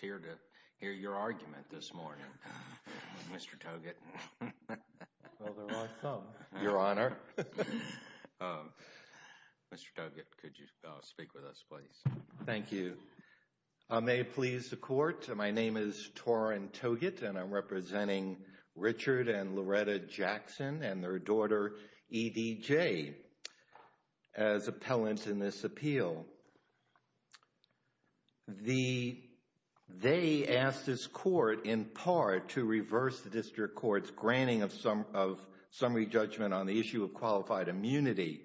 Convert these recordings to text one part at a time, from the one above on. here to hear your argument this morning, Mr. Toggett. Well, there are some, Your Honor. Mr. Toggett, could you speak with us, please? Thank you. May it please the Court, my name is Torin Toggett and I'm representing Richard and Loretta Jackson and their daughter E.D.J. as appellants in this appeal. Now, they asked this Court, in part, to reverse the District Court's granting of summary judgment on the issue of qualified immunity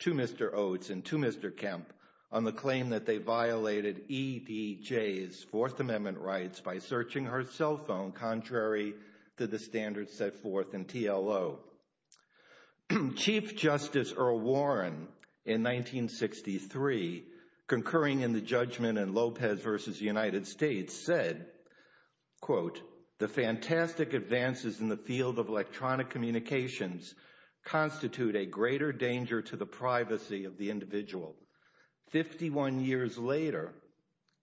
to Mr. Oates and to Mr. Kemp on the claim that they violated E.D.J.'s Fourth Amendment rights by searching her cell phone contrary to the standards set forth in concurring in the judgment in Lopez v. United States said, quote, the fantastic advances in the field of electronic communications constitute a greater danger to the privacy of the individual. Fifty-one years later,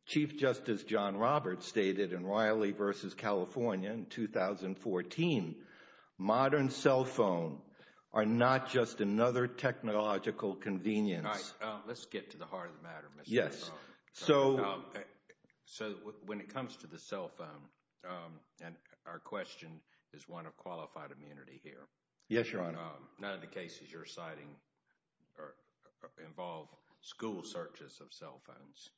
Chief Justice John Roberts stated in Riley v. California in 2014, modern cell phone are not just another technological convenience. Let's get to the heart of the matter. So when it comes to the cell phone, and our question is one of qualified immunity here. Yes, Your Honor. None of the cases you're citing involve school searches of cell phones.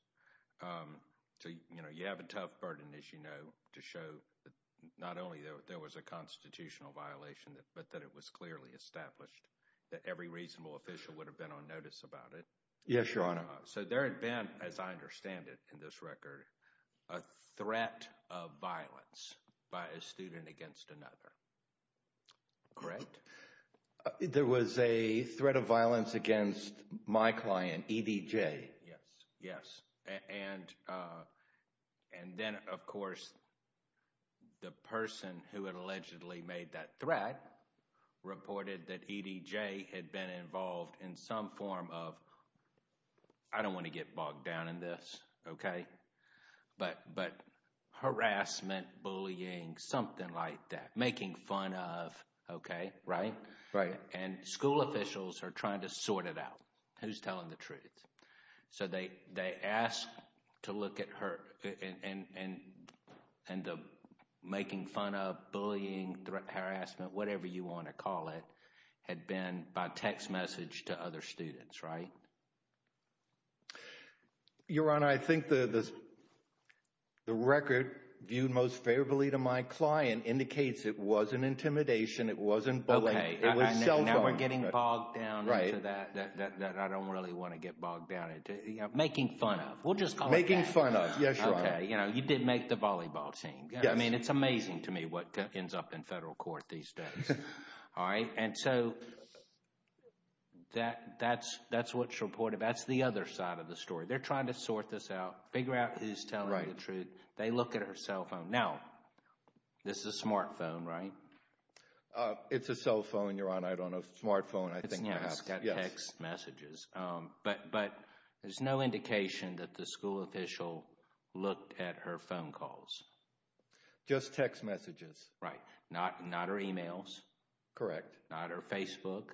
So, you know, you have a tough burden, as you know, to show that not only there was a constitutional violation, but that it was clearly established that every reasonable official would have been on notice about it. Yes, Your Honor. So there had been, as I understand it in this record, a threat of violence by a student against another. Correct? There was a threat of violence against my client, E.D.J. Yes, yes. And then, of course, the person who had allegedly made that threat reported that E.D.J. had been involved in some form of, I don't want to get bogged down in this, okay, but harassment, bullying, something like that. Making fun of, okay, right? Right. And school officials are trying to sort it out. Who's telling the truth? So they asked to look at her, and the making fun of, bullying, harassment, whatever you want to call it, had been by text message to other students, right? Your Honor, I think the record viewed most favorably to my client indicates it wasn't intimidation, it wasn't bullying, it was cell phone harassment. Getting bogged down into that, that I don't really want to get bogged down into. Making fun of, we'll just call it that. Making fun of, yes, Your Honor. Okay, you know, you did make the volleyball team. Yes. I mean, it's amazing to me what ends up in federal court these days, all right? And so that's what's reported. That's the other side of the story. They're trying to sort this out, figure out who's telling the truth. They look at her cell phone. Now, this is a smartphone, right? It's a cell phone, Your Honor. I don't know, smartphone, I think. Yeah, it's got text messages, but there's no indication that the school official looked at her phone calls. Just text messages. Right, not her emails. Correct. Not her Facebook.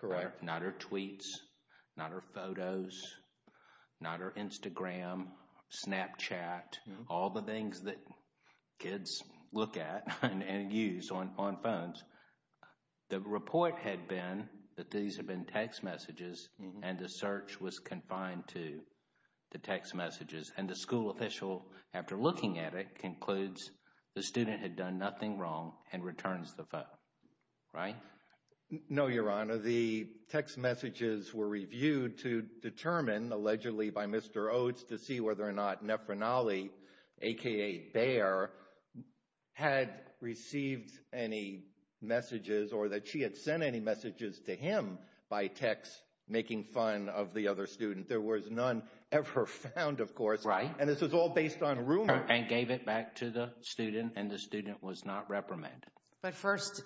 Correct. Not her tweets, not her photos, not her Instagram, Snapchat, all the things that look at and use on phones. The report had been that these had been text messages, and the search was confined to the text messages. And the school official, after looking at it, concludes the student had done nothing wrong and returns the phone, right? No, Your Honor. The text messages were reviewed to determine, allegedly by Mr. Oates to see whether or not had received any messages or that she had sent any messages to him by text, making fun of the other student. There was none ever found, of course. Right. And this was all based on rumor. And gave it back to the student, and the student was not reprimanded. But first,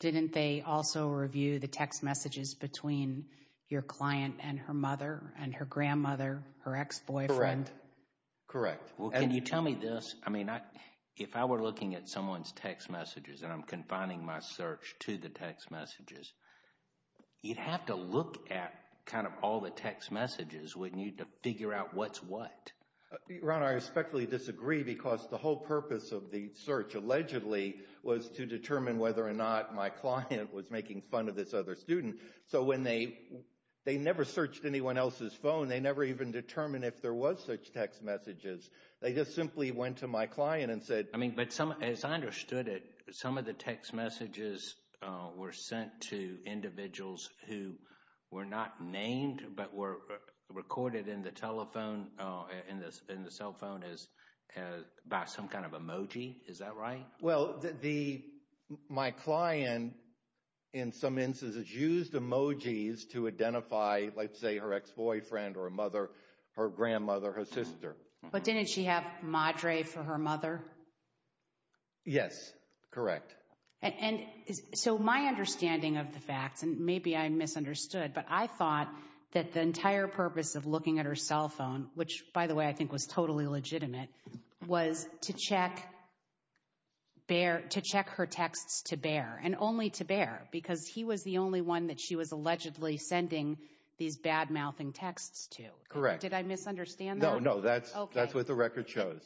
didn't they also review the text messages between your client and her mother and her grandmother, her ex-boyfriend? Correct. Correct. Well, can you tell me this? If I were looking at someone's text messages and I'm confining my search to the text messages, you'd have to look at all the text messages, wouldn't you, to figure out what's what? Your Honor, I respectfully disagree because the whole purpose of the search, allegedly, was to determine whether or not my client was making fun of this other student. So when they never searched anyone else's phone, they never even determined if there was such text messages. They just simply went to my client and said- I mean, but as I understood it, some of the text messages were sent to individuals who were not named, but were recorded in the telephone, in the cell phone, by some kind of emoji. Is that right? Well, my client, in some instances, used emojis to identify, let's say, her ex-boyfriend or a mother, her grandmother, her sister. But didn't she have Madre for her mother? Yes, correct. And so my understanding of the facts, and maybe I misunderstood, but I thought that the entire purpose of looking at her cell phone, which, by the way, I think was totally legitimate, was to check her texts to Bear, and only to Bear, because he was the only one that she was allegedly sending these bad-mouthing texts to. Correct. Did I misunderstand that? No, that's what the record shows.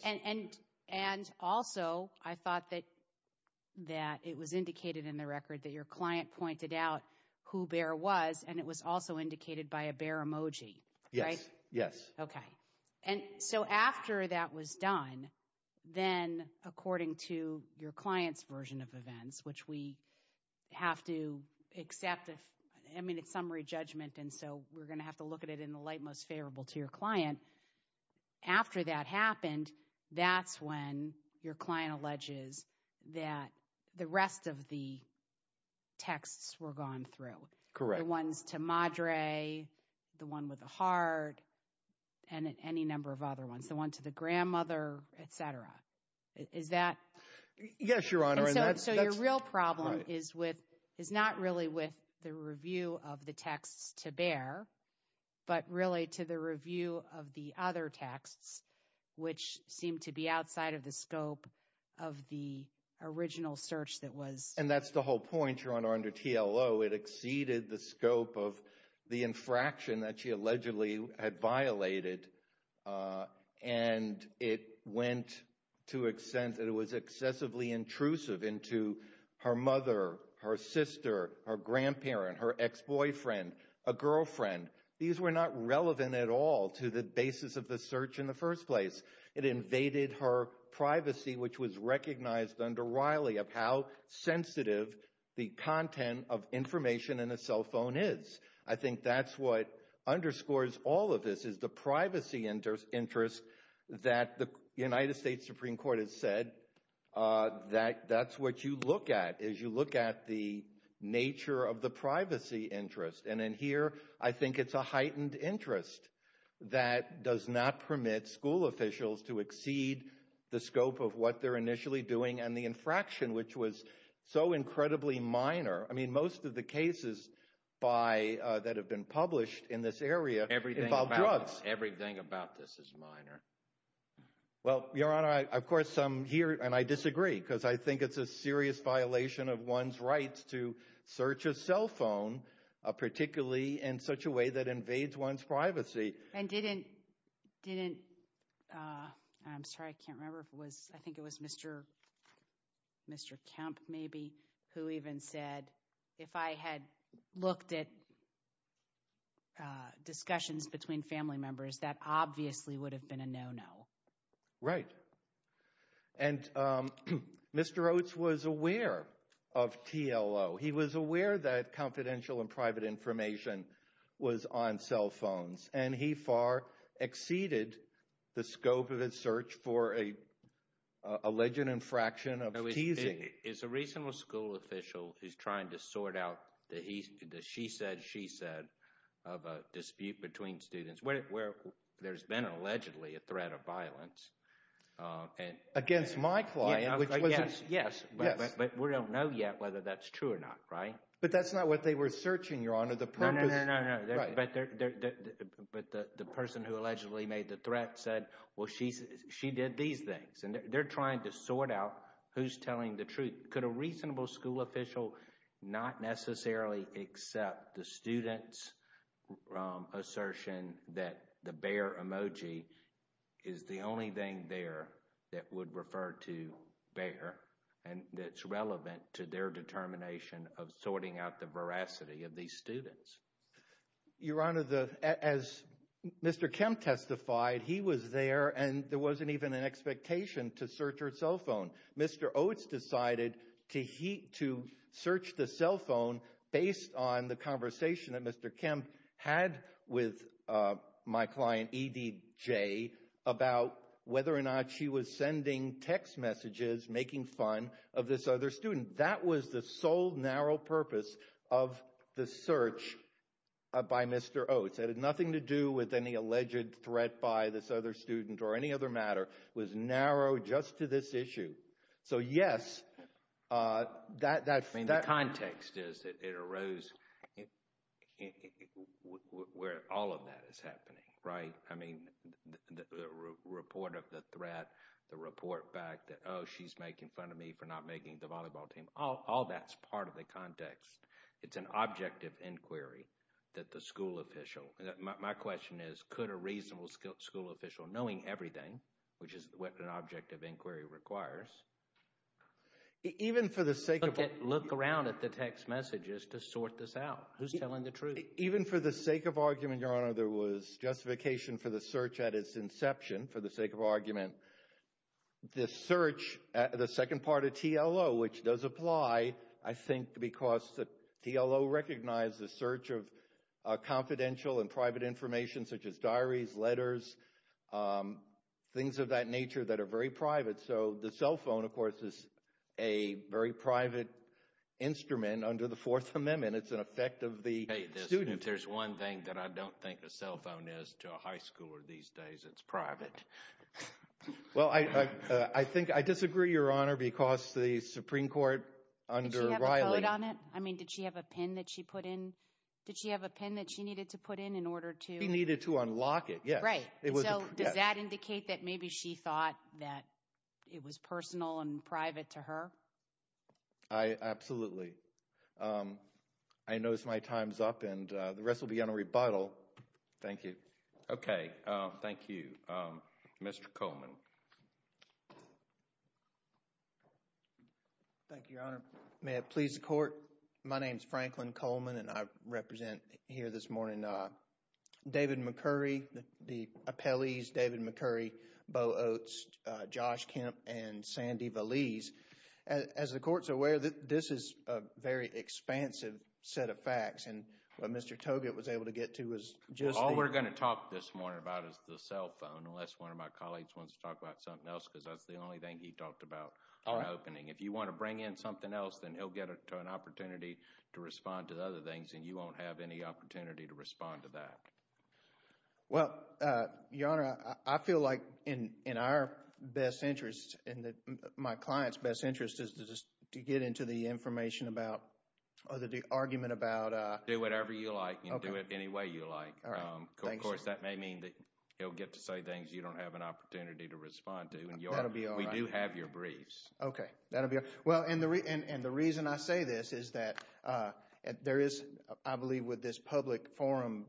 And also, I thought that it was indicated in the record that your client pointed out who Bear was, and it was also indicated by a Bear emoji. Yes, yes. Okay. And so after that was done, then, according to your client's version of events, which we have to accept, I mean, it's summary judgment, and so we're going to have to look at it in the light most favorable to your client. After that happened, that's when your client alleges that the rest of the texts were gone through. Correct. The ones to Madre, the one with the heart, and any number of other ones. The one to the grandmother, et cetera. Is that... Yes, Your Honor, and that's... But really, to the review of the other texts, which seem to be outside of the scope of the original search that was... And that's the whole point, Your Honor, under TLO. It exceeded the scope of the infraction that she allegedly had violated, and it went to extent that it was excessively intrusive into her mother, her sister, her grandparent, her ex-boyfriend, a girlfriend. These were not relevant at all to the basis of the search in the first place. It invaded her privacy, which was recognized under Riley of how sensitive the content of information in a cell phone is. I think that's what underscores all of this, is the privacy interest that the United States Supreme Court has said that that's what you look at, is you look at the nature of the privacy interest. And in here, I think it's a heightened interest that does not permit school officials to exceed the scope of what they're initially doing and the infraction, which was so incredibly minor. I mean, most of the cases that have been published in this area involve drugs. Everything about this is minor. Well, Your Honor, of course, I'm here, and I disagree, because I think it's a serious violation of one's rights to search a cell phone, particularly in such a way that invades one's privacy. And didn't—I'm sorry, I can't remember if it was—I think it was Mr. Kemp, maybe, who even said, if I had looked at discussions between family members, that obviously would have been a no-no. Right. And Mr. Oates was aware of TLO. He was aware that confidential and private information was on cell phones. And he far exceeded the scope of his search for an alleged infraction of teasing— It's a reasonable school official who's trying to sort out the she said, she said of a dispute between students, where there's been, allegedly, a threat of violence. Against my client, which was— Yes, yes, but we don't know yet whether that's true or not, right? But that's not what they were searching, Your Honor. The purpose— No, no, no, no, no, but the person who allegedly made the threat said, well, she did these things. And they're trying to sort out who's telling the truth. Could a reasonable school official not necessarily accept the student's assertion that the only thing there that would refer to Bayer and that's relevant to their determination of sorting out the veracity of these students? Your Honor, as Mr. Kemp testified, he was there and there wasn't even an expectation to search her cell phone. Mr. Oates decided to search the cell phone based on the conversation that Mr. Kemp had with my client, E.D.J., about whether or not she was sending text messages, making fun of this other student. That was the sole narrow purpose of the search by Mr. Oates. It had nothing to do with any alleged threat by this other student or any other matter. It was narrow just to this issue. So, yes, that— I mean, the context is that it arose where all of that is happening, right? I mean, the report of the threat, the report back that, oh, she's making fun of me for not making the volleyball team, all that's part of the context. It's an objective inquiry that the school official—my question is, could a reasonable school official, knowing everything, which is what an objective inquiry requires— at the text messages to sort this out? Who's telling the truth? Even for the sake of argument, Your Honor, there was justification for the search at its inception, for the sake of argument. The search—the second part of TLO, which does apply, I think, because TLO recognized the search of confidential and private information such as diaries, letters, things of that nature that are very private. So the cell phone, of course, is a very private instrument under the Fourth Amendment. It's an effect of the student— If there's one thing that I don't think a cell phone is to a high schooler these days, it's private. Well, I think—I disagree, Your Honor, because the Supreme Court under Riley— Did she have a code on it? I mean, did she have a PIN that she put in? Did she have a PIN that she needed to put in in order to— She needed to unlock it, yes. Right. Does that indicate that maybe she thought that it was personal and private to her? I—absolutely. I know my time's up, and the rest will be on a rebuttal. Thank you. Okay, thank you. Mr. Coleman. Thank you, Your Honor. May it please the Court, my name's Franklin Coleman, and I represent here this morning David McCurry, the appellees, David McCurry, Bo Oates, Josh Kemp, and Sandy Valese. As the Court's aware, this is a very expansive set of facts, and what Mr. Togut was able to get to was— All we're going to talk this morning about is the cell phone, unless one of my colleagues wants to talk about something else, because that's the only thing he talked about in the opening. If you want to bring in something else, then he'll get an opportunity to respond to other things, and you won't have any opportunity to respond to that. Well, Your Honor, I feel like in our best interest, in my client's best interest, is to just to get into the information about, or the argument about— Do whatever you like, and do it any way you like. All right. Of course, that may mean that he'll get to say things you don't have an opportunity to respond to, and we do have your briefs. Okay, that'll be all right. And the reason I say this is that there is, I believe, with this public forum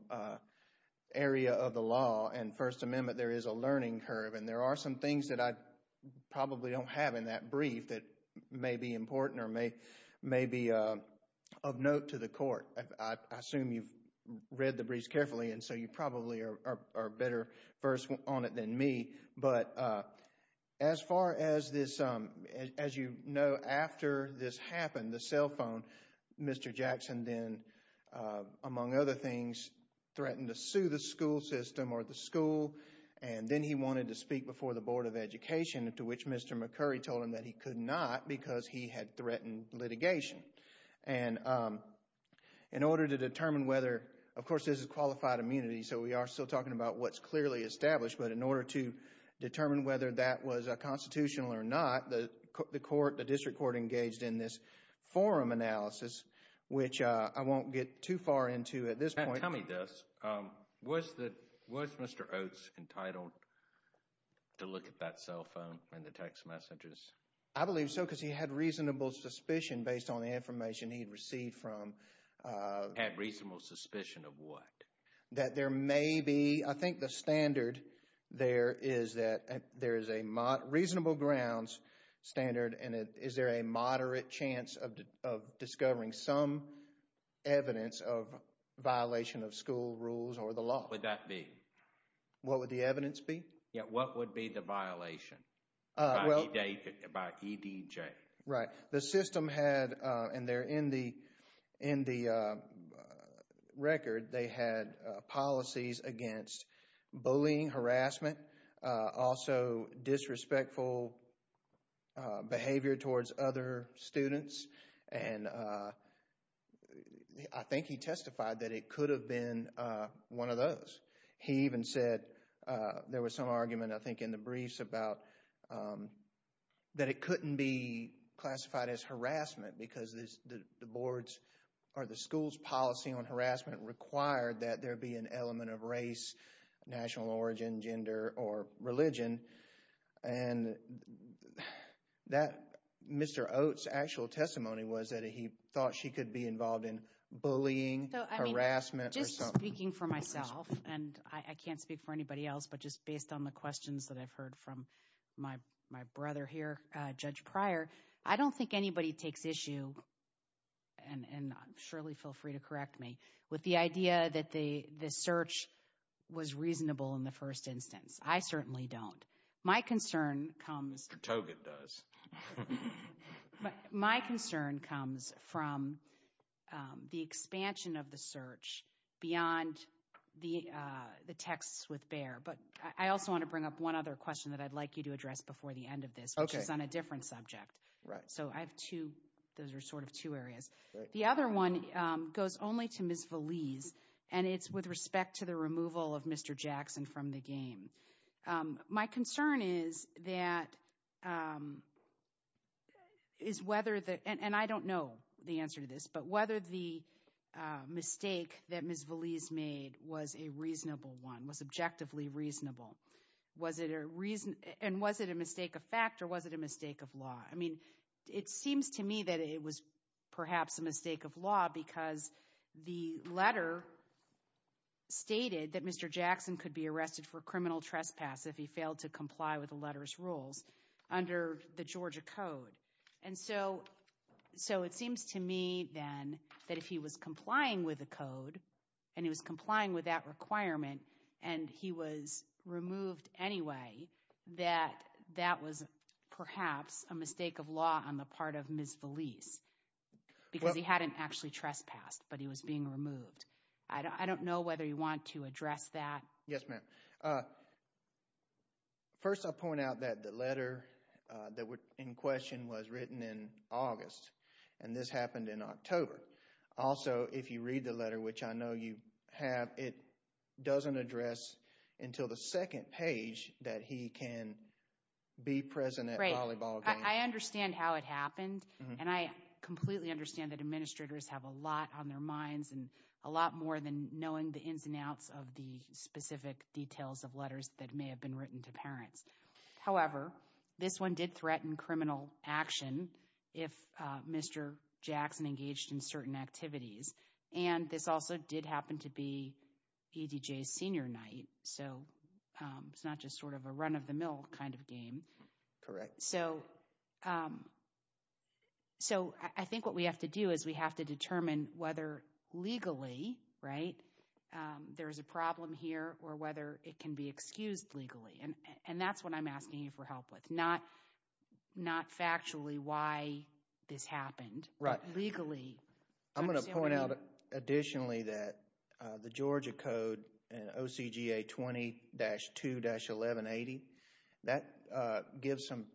area of the law and First Amendment, there is a learning curve, and there are some things that I probably don't have in that brief that may be important or may be of note to the Court. I assume you've read the briefs carefully, and so you probably are better first on it than me, but as far as this, as you know, after this happened, the cell phone, Mr. Jackson then, among other things, threatened to sue the school system or the school, and then he wanted to speak before the Board of Education, to which Mr. McCurry told him that he could not because he had threatened litigation. And in order to determine whether, of course, this is qualified immunity, so we are still talking about what's clearly established, but in order to determine whether that was constitutional or not, the District Court engaged in this forum analysis, which I won't get too far into at this point. Tell me this, was Mr. Oates entitled to look at that cell phone and the text messages? I believe so because he had reasonable suspicion based on the information he'd received from. Had reasonable suspicion of what? That there may be, I think the standard there is that there is a reasonable grounds standard, and is there a moderate chance of discovering some evidence of violation of school rules or the law? What would that be? What would the evidence be? Yeah, what would be the violation by EDJ? Right. The system had, and they're in the record, they had policies against bullying, harassment, also disrespectful behavior towards other students. And I think he testified that it could have been one of those. He even said, there was some argument, I think, in the briefs about that it couldn't be classified as harassment because the boards or the school's policy on harassment required that there be an element of race, national origin, gender, or religion. And Mr. Oates' actual testimony was that he thought she could be involved in bullying, harassment, or something. So, I mean, just speaking for myself, and I can't speak for anybody else, but just based on the questions that I've heard from my brother here, Judge Pryor, I don't think anybody takes issue, and surely feel free to correct me, with the idea that the search was reasonable in the first instance. I certainly don't. My concern comes... Togan does. My concern comes from the expansion of the search beyond the texts with Bayer. I also want to bring up one other question that I'd like you to address before the end of this, which is on a different subject. So I have two, those are sort of two areas. The other one goes only to Ms. Valese, and it's with respect to the removal of Mr. Jackson from the game. My concern is that, and I don't know the answer to this, but whether the mistake that Ms. Valese made was a reasonable one, was objectively reasonable. Was it a reason, and was it a mistake of fact, or was it a mistake of law? I mean, it seems to me that it was perhaps a mistake of law, because the letter stated that Mr. Jackson could be arrested for criminal trespass if he failed to comply with the letter's rules under the Georgia Code. And so, so it seems to me then that if he was complying with the code, and he was complying with that requirement, and he was removed anyway, that that was perhaps a mistake of law on the part of Ms. Valese, because he hadn't actually trespassed, but he was being removed. I don't know whether you want to address that. Yes, ma'am. First, I'll point out that the letter that was in question was written in August, and this happened in October. Also, if you read the letter, which I know you have, it doesn't address until the second page that he can be present at volleyball games. I understand how it happened, and I completely understand that administrators have a lot on their minds, and a lot more than knowing the ins and outs of the specific details of letters that may have been written to parents. However, this one did threaten criminal action if Mr. Jackson engaged in certain activities, and this also did happen to be EDJ's senior night, so it's not just sort of a run-of-the-mill kind of game. Correct. So I think what we have to do is we have to determine whether legally, right, there's a problem here, or whether it can be excused legally, and that's what I'm asking you for help with, not factually why this happened, but legally. I'm going to point out additionally that the Georgia Code, in OCGA 20-2-1180, that gives some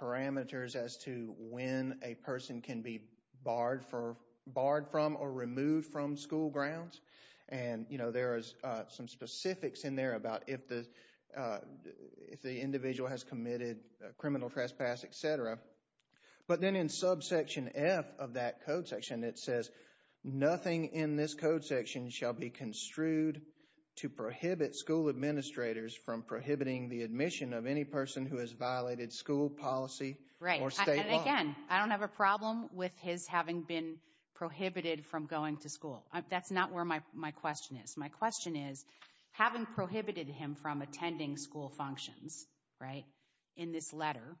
parameters as to when a person can be barred from or removed from school grounds, and, you know, there is some specifics in there about if the individual has committed criminal trespass, etc., but then in subsection F of that code section, it says nothing in this code section shall be construed to prohibit school administrators from prohibiting the admission of any person who has violated school policy or state law. Again, I don't have a problem with his having been prohibited from going to school. That's not where my question is. My question is, having prohibited him from attending school functions, right, in this letter,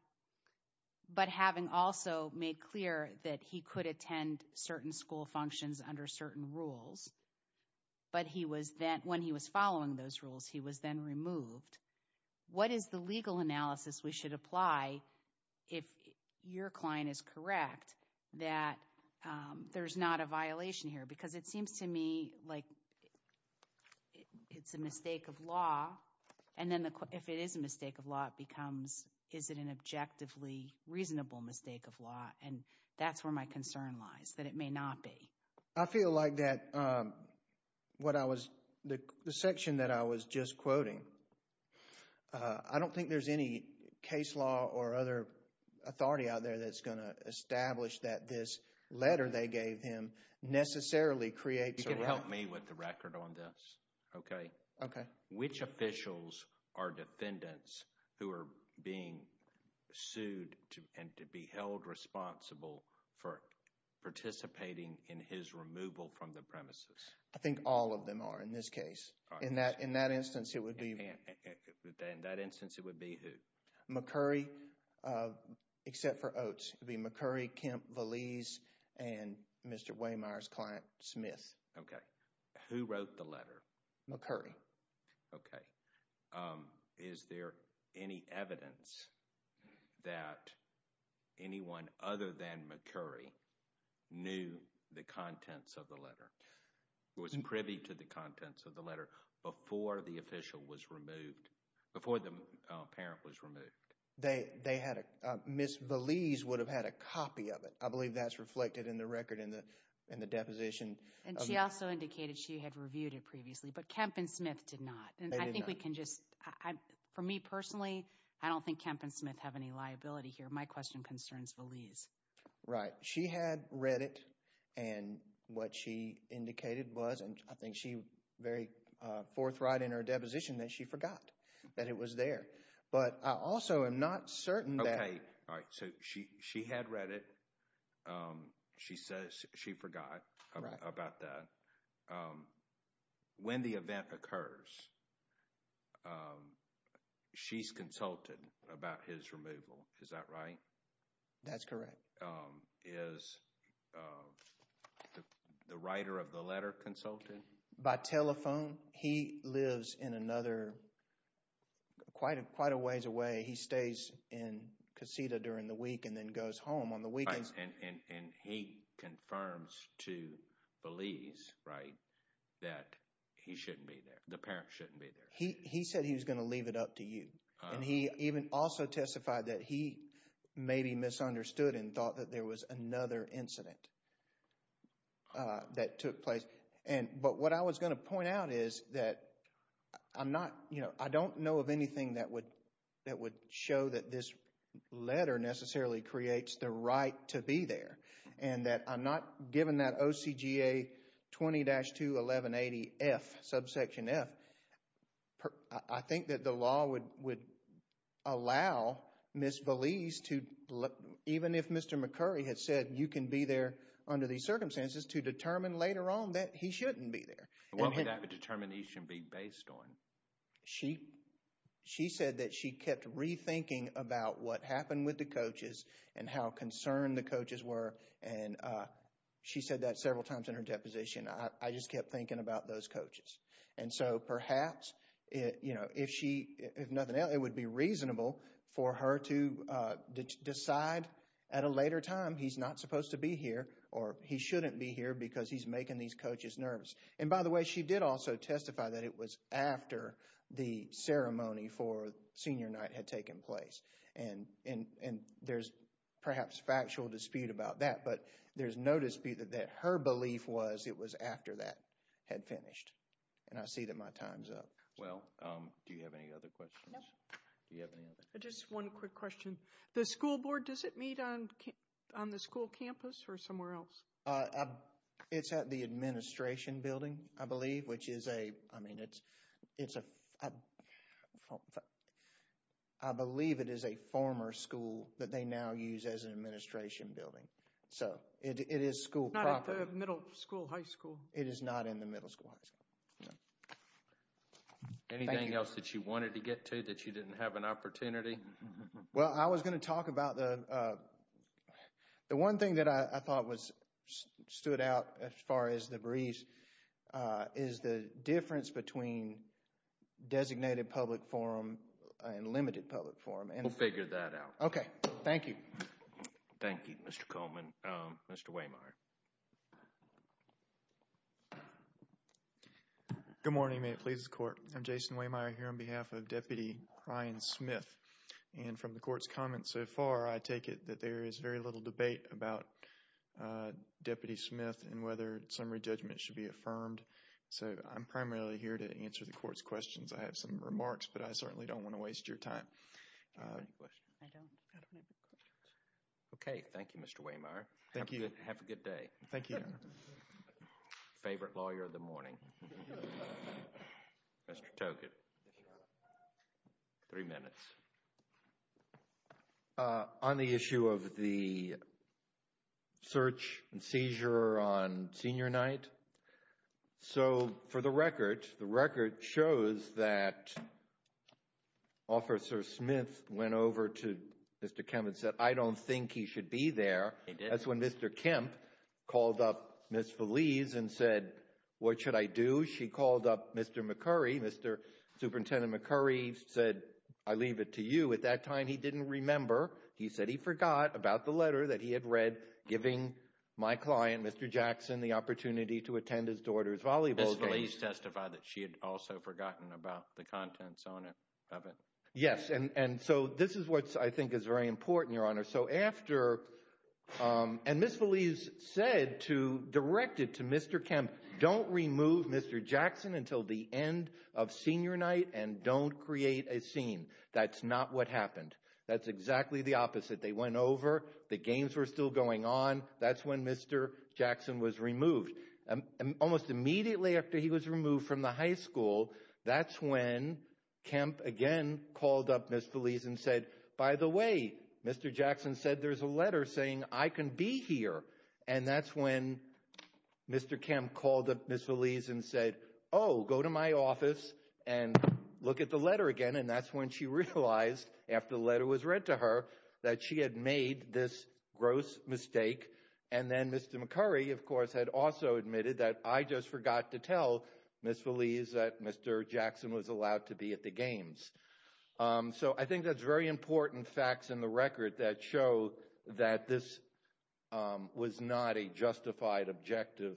but having also made clear that he could attend certain school functions under certain rules, but when he was following those rules, he was then removed, what is the legal analysis we should apply if your client is correct that there's not a violation here? Because it seems to me like it's a mistake of law, and then if it is a mistake of law, it becomes, is it an objectively reasonable mistake of law? And that's where my concern lies, that it may not be. I feel like that, what I was, the section that I was just quoting, I don't think there's any case law or other authority out there that's going to establish that this letter they gave him necessarily creates. You can help me with the record on this, okay? Okay. Which officials are defendants who are being sued and to be held responsible for participating in his removal from the premises? I think all of them are in this case. In that instance, it would be. In that instance, it would be who? McCurry, except for Oates. It would be McCurry, Kemp, Valise, and Mr. Waymire's client, Smith. Okay. Who wrote the letter? McCurry. Okay. Is there any evidence that anyone other than McCurry knew the contents of the letter, was privy to the contents of the letter before the official was removed, before the parent was removed? They had, Ms. Valise would have had a copy of it. I believe that's reflected in the record in the deposition. And she also indicated she had reviewed it previously, but Kemp and Smith did not. And I think we can just, for me personally, I don't think Kemp and Smith have any liability here. My question concerns Valise. Right. She had read it and what she indicated was, and I think she very forthright in her deposition that she forgot that it was there. But I also am not certain that... Okay. All right. So she had read it. She says she forgot. About that. When the event occurs, she's consulted about his removal. Is that right? That's correct. Is the writer of the letter consulted? By telephone. He lives in another, quite a ways away. He stays in Casita during the week and then goes home on the weekends. And he confirms to Valise, right, that he shouldn't be there. The parents shouldn't be there. He said he was going to leave it up to you. And he even also testified that he maybe misunderstood and thought that there was another incident that took place. But what I was going to point out is that I'm not, you know, I don't know of anything that would show that this letter necessarily creates the right to be there. And that I'm not given that OCGA 20-21180F, subsection F. I think that the law would allow Ms. Valise to, even if Mr. McCurry had said you can be there under these circumstances, to determine later on that he shouldn't be there. What would that determination be based on? She said that she kept rethinking about what happened with the coaches and how concerned the coaches were. And she said that several times in her deposition. I just kept thinking about those coaches. And so perhaps, you know, if she, if nothing else, it would be reasonable for her to decide at a later time he's not supposed to be here or he shouldn't be here because he's making these coaches nervous. And by the way, she did also testify that it was after the ceremony for senior night had taken place. And there's perhaps factual dispute about that. But there's no dispute that her belief was it was after that had finished. And I see that my time's up. Well, do you have any other questions? No. Do you have any other? Just one quick question. The school board, does it meet on the school campus or somewhere else? Uh, it's at the administration building, I believe, which is a, I mean, it's, it's a, I believe it is a former school that they now use as an administration building. So it is school proper. Not at the middle school, high school. It is not in the middle school, high school. Anything else that you wanted to get to that you didn't have an opportunity? Well, I was going to talk about the, uh, the one thing that I thought was stood out as far as the breeze, is the difference between designated public forum and limited public forum. We'll figure that out. Okay. Thank you. Thank you, Mr. Coleman. Mr. Wehmeyer. Good morning. May it please the court. I'm Jason Wehmeyer here on behalf of Deputy Ryan Smith. And from the court's comments so far, I take it that there is very little debate about, uh, Deputy Smith and whether summary judgment should be affirmed. So I'm primarily here to answer the court's questions. I have some remarks, but I certainly don't want to waste your time. Okay. Thank you, Mr. Wehmeyer. Thank you. Have a good day. Thank you. Favorite lawyer of the morning. Mr. Togut. Three minutes. Uh, on the issue of the search and seizure on senior night. So for the record, the record shows that Officer Smith went over to Mr. Kemp and said, I don't think he should be there. That's when Mr. Kemp called up Ms. Feliz and said, what should I do? She called up Mr. McCurry. Mr. Superintendent McCurry said, I leave it to you. At that time, he didn't remember. He said he forgot about the letter that he had read, giving my client, Mr. Jackson, the opportunity to attend his daughter's volleyball game. Ms. Feliz testified that she had also forgotten about the contents on it, of it. Yes. And, and so this is what I think is very important, Your Honor. So after, um, and Ms. Feliz said to, directed to Mr. Kemp, don't remove Mr. Jackson until the end of senior night and don't create a scene. That's not what happened. That's exactly the opposite. They went over, the games were still going on. That's when Mr. Jackson was removed. Almost immediately after he was removed from the high school, that's when Kemp again called up Ms. Feliz and said, by the way, Mr. Jackson said there's a letter saying I can be here. And that's when Mr. Kemp called up Ms. Feliz and said, oh, go to my office and look at the letter again. And that's when she realized after the letter was read to her that she had made this gross mistake. And then Mr. McCurry, of course, had also admitted that I just forgot to tell Ms. Feliz that Mr. Jackson was allowed to be at the games. So I think that's very important facts in the record that show that this was not a justified objective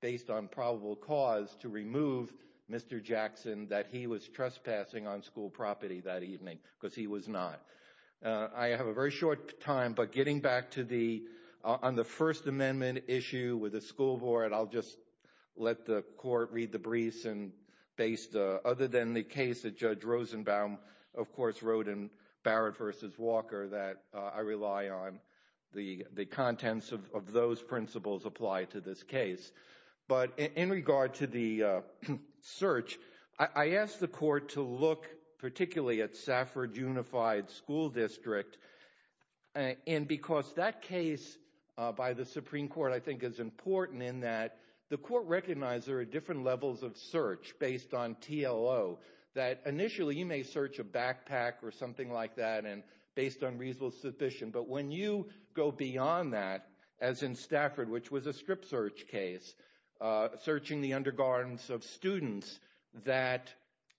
based on probable cause to remove Mr. Jackson that he was trespassing on school property that evening because he was not. I have a very short time, but getting back to the, on the First Amendment issue with the school board, I'll just let the court read the briefs. And based, other than the case that Judge Rosenbaum, of course, wrote in Barrett versus Walker that I rely on the contents of those principles apply to this case. But in regard to the search, I asked the court to look particularly at Safford Unified School District. And because that case by the Supreme Court, I think, is important in that the court recognized there are different levels of search based on TLO that initially you may search a backpack or something like that and based on reasonable suspicion. But when you go beyond that, as in Stafford, which was a strip search case, searching the undergarments of students, that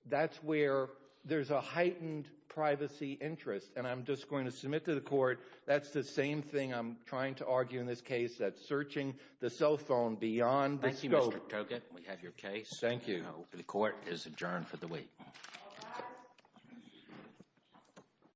that's where there's a heightened privacy interest. And I'm just going to submit to the court, that's the same thing I'm trying to argue in this case, that searching the cell phone beyond the scope. Thank you, Mr. Tokut. We have your case. Thank you. The court is adjourned for the week.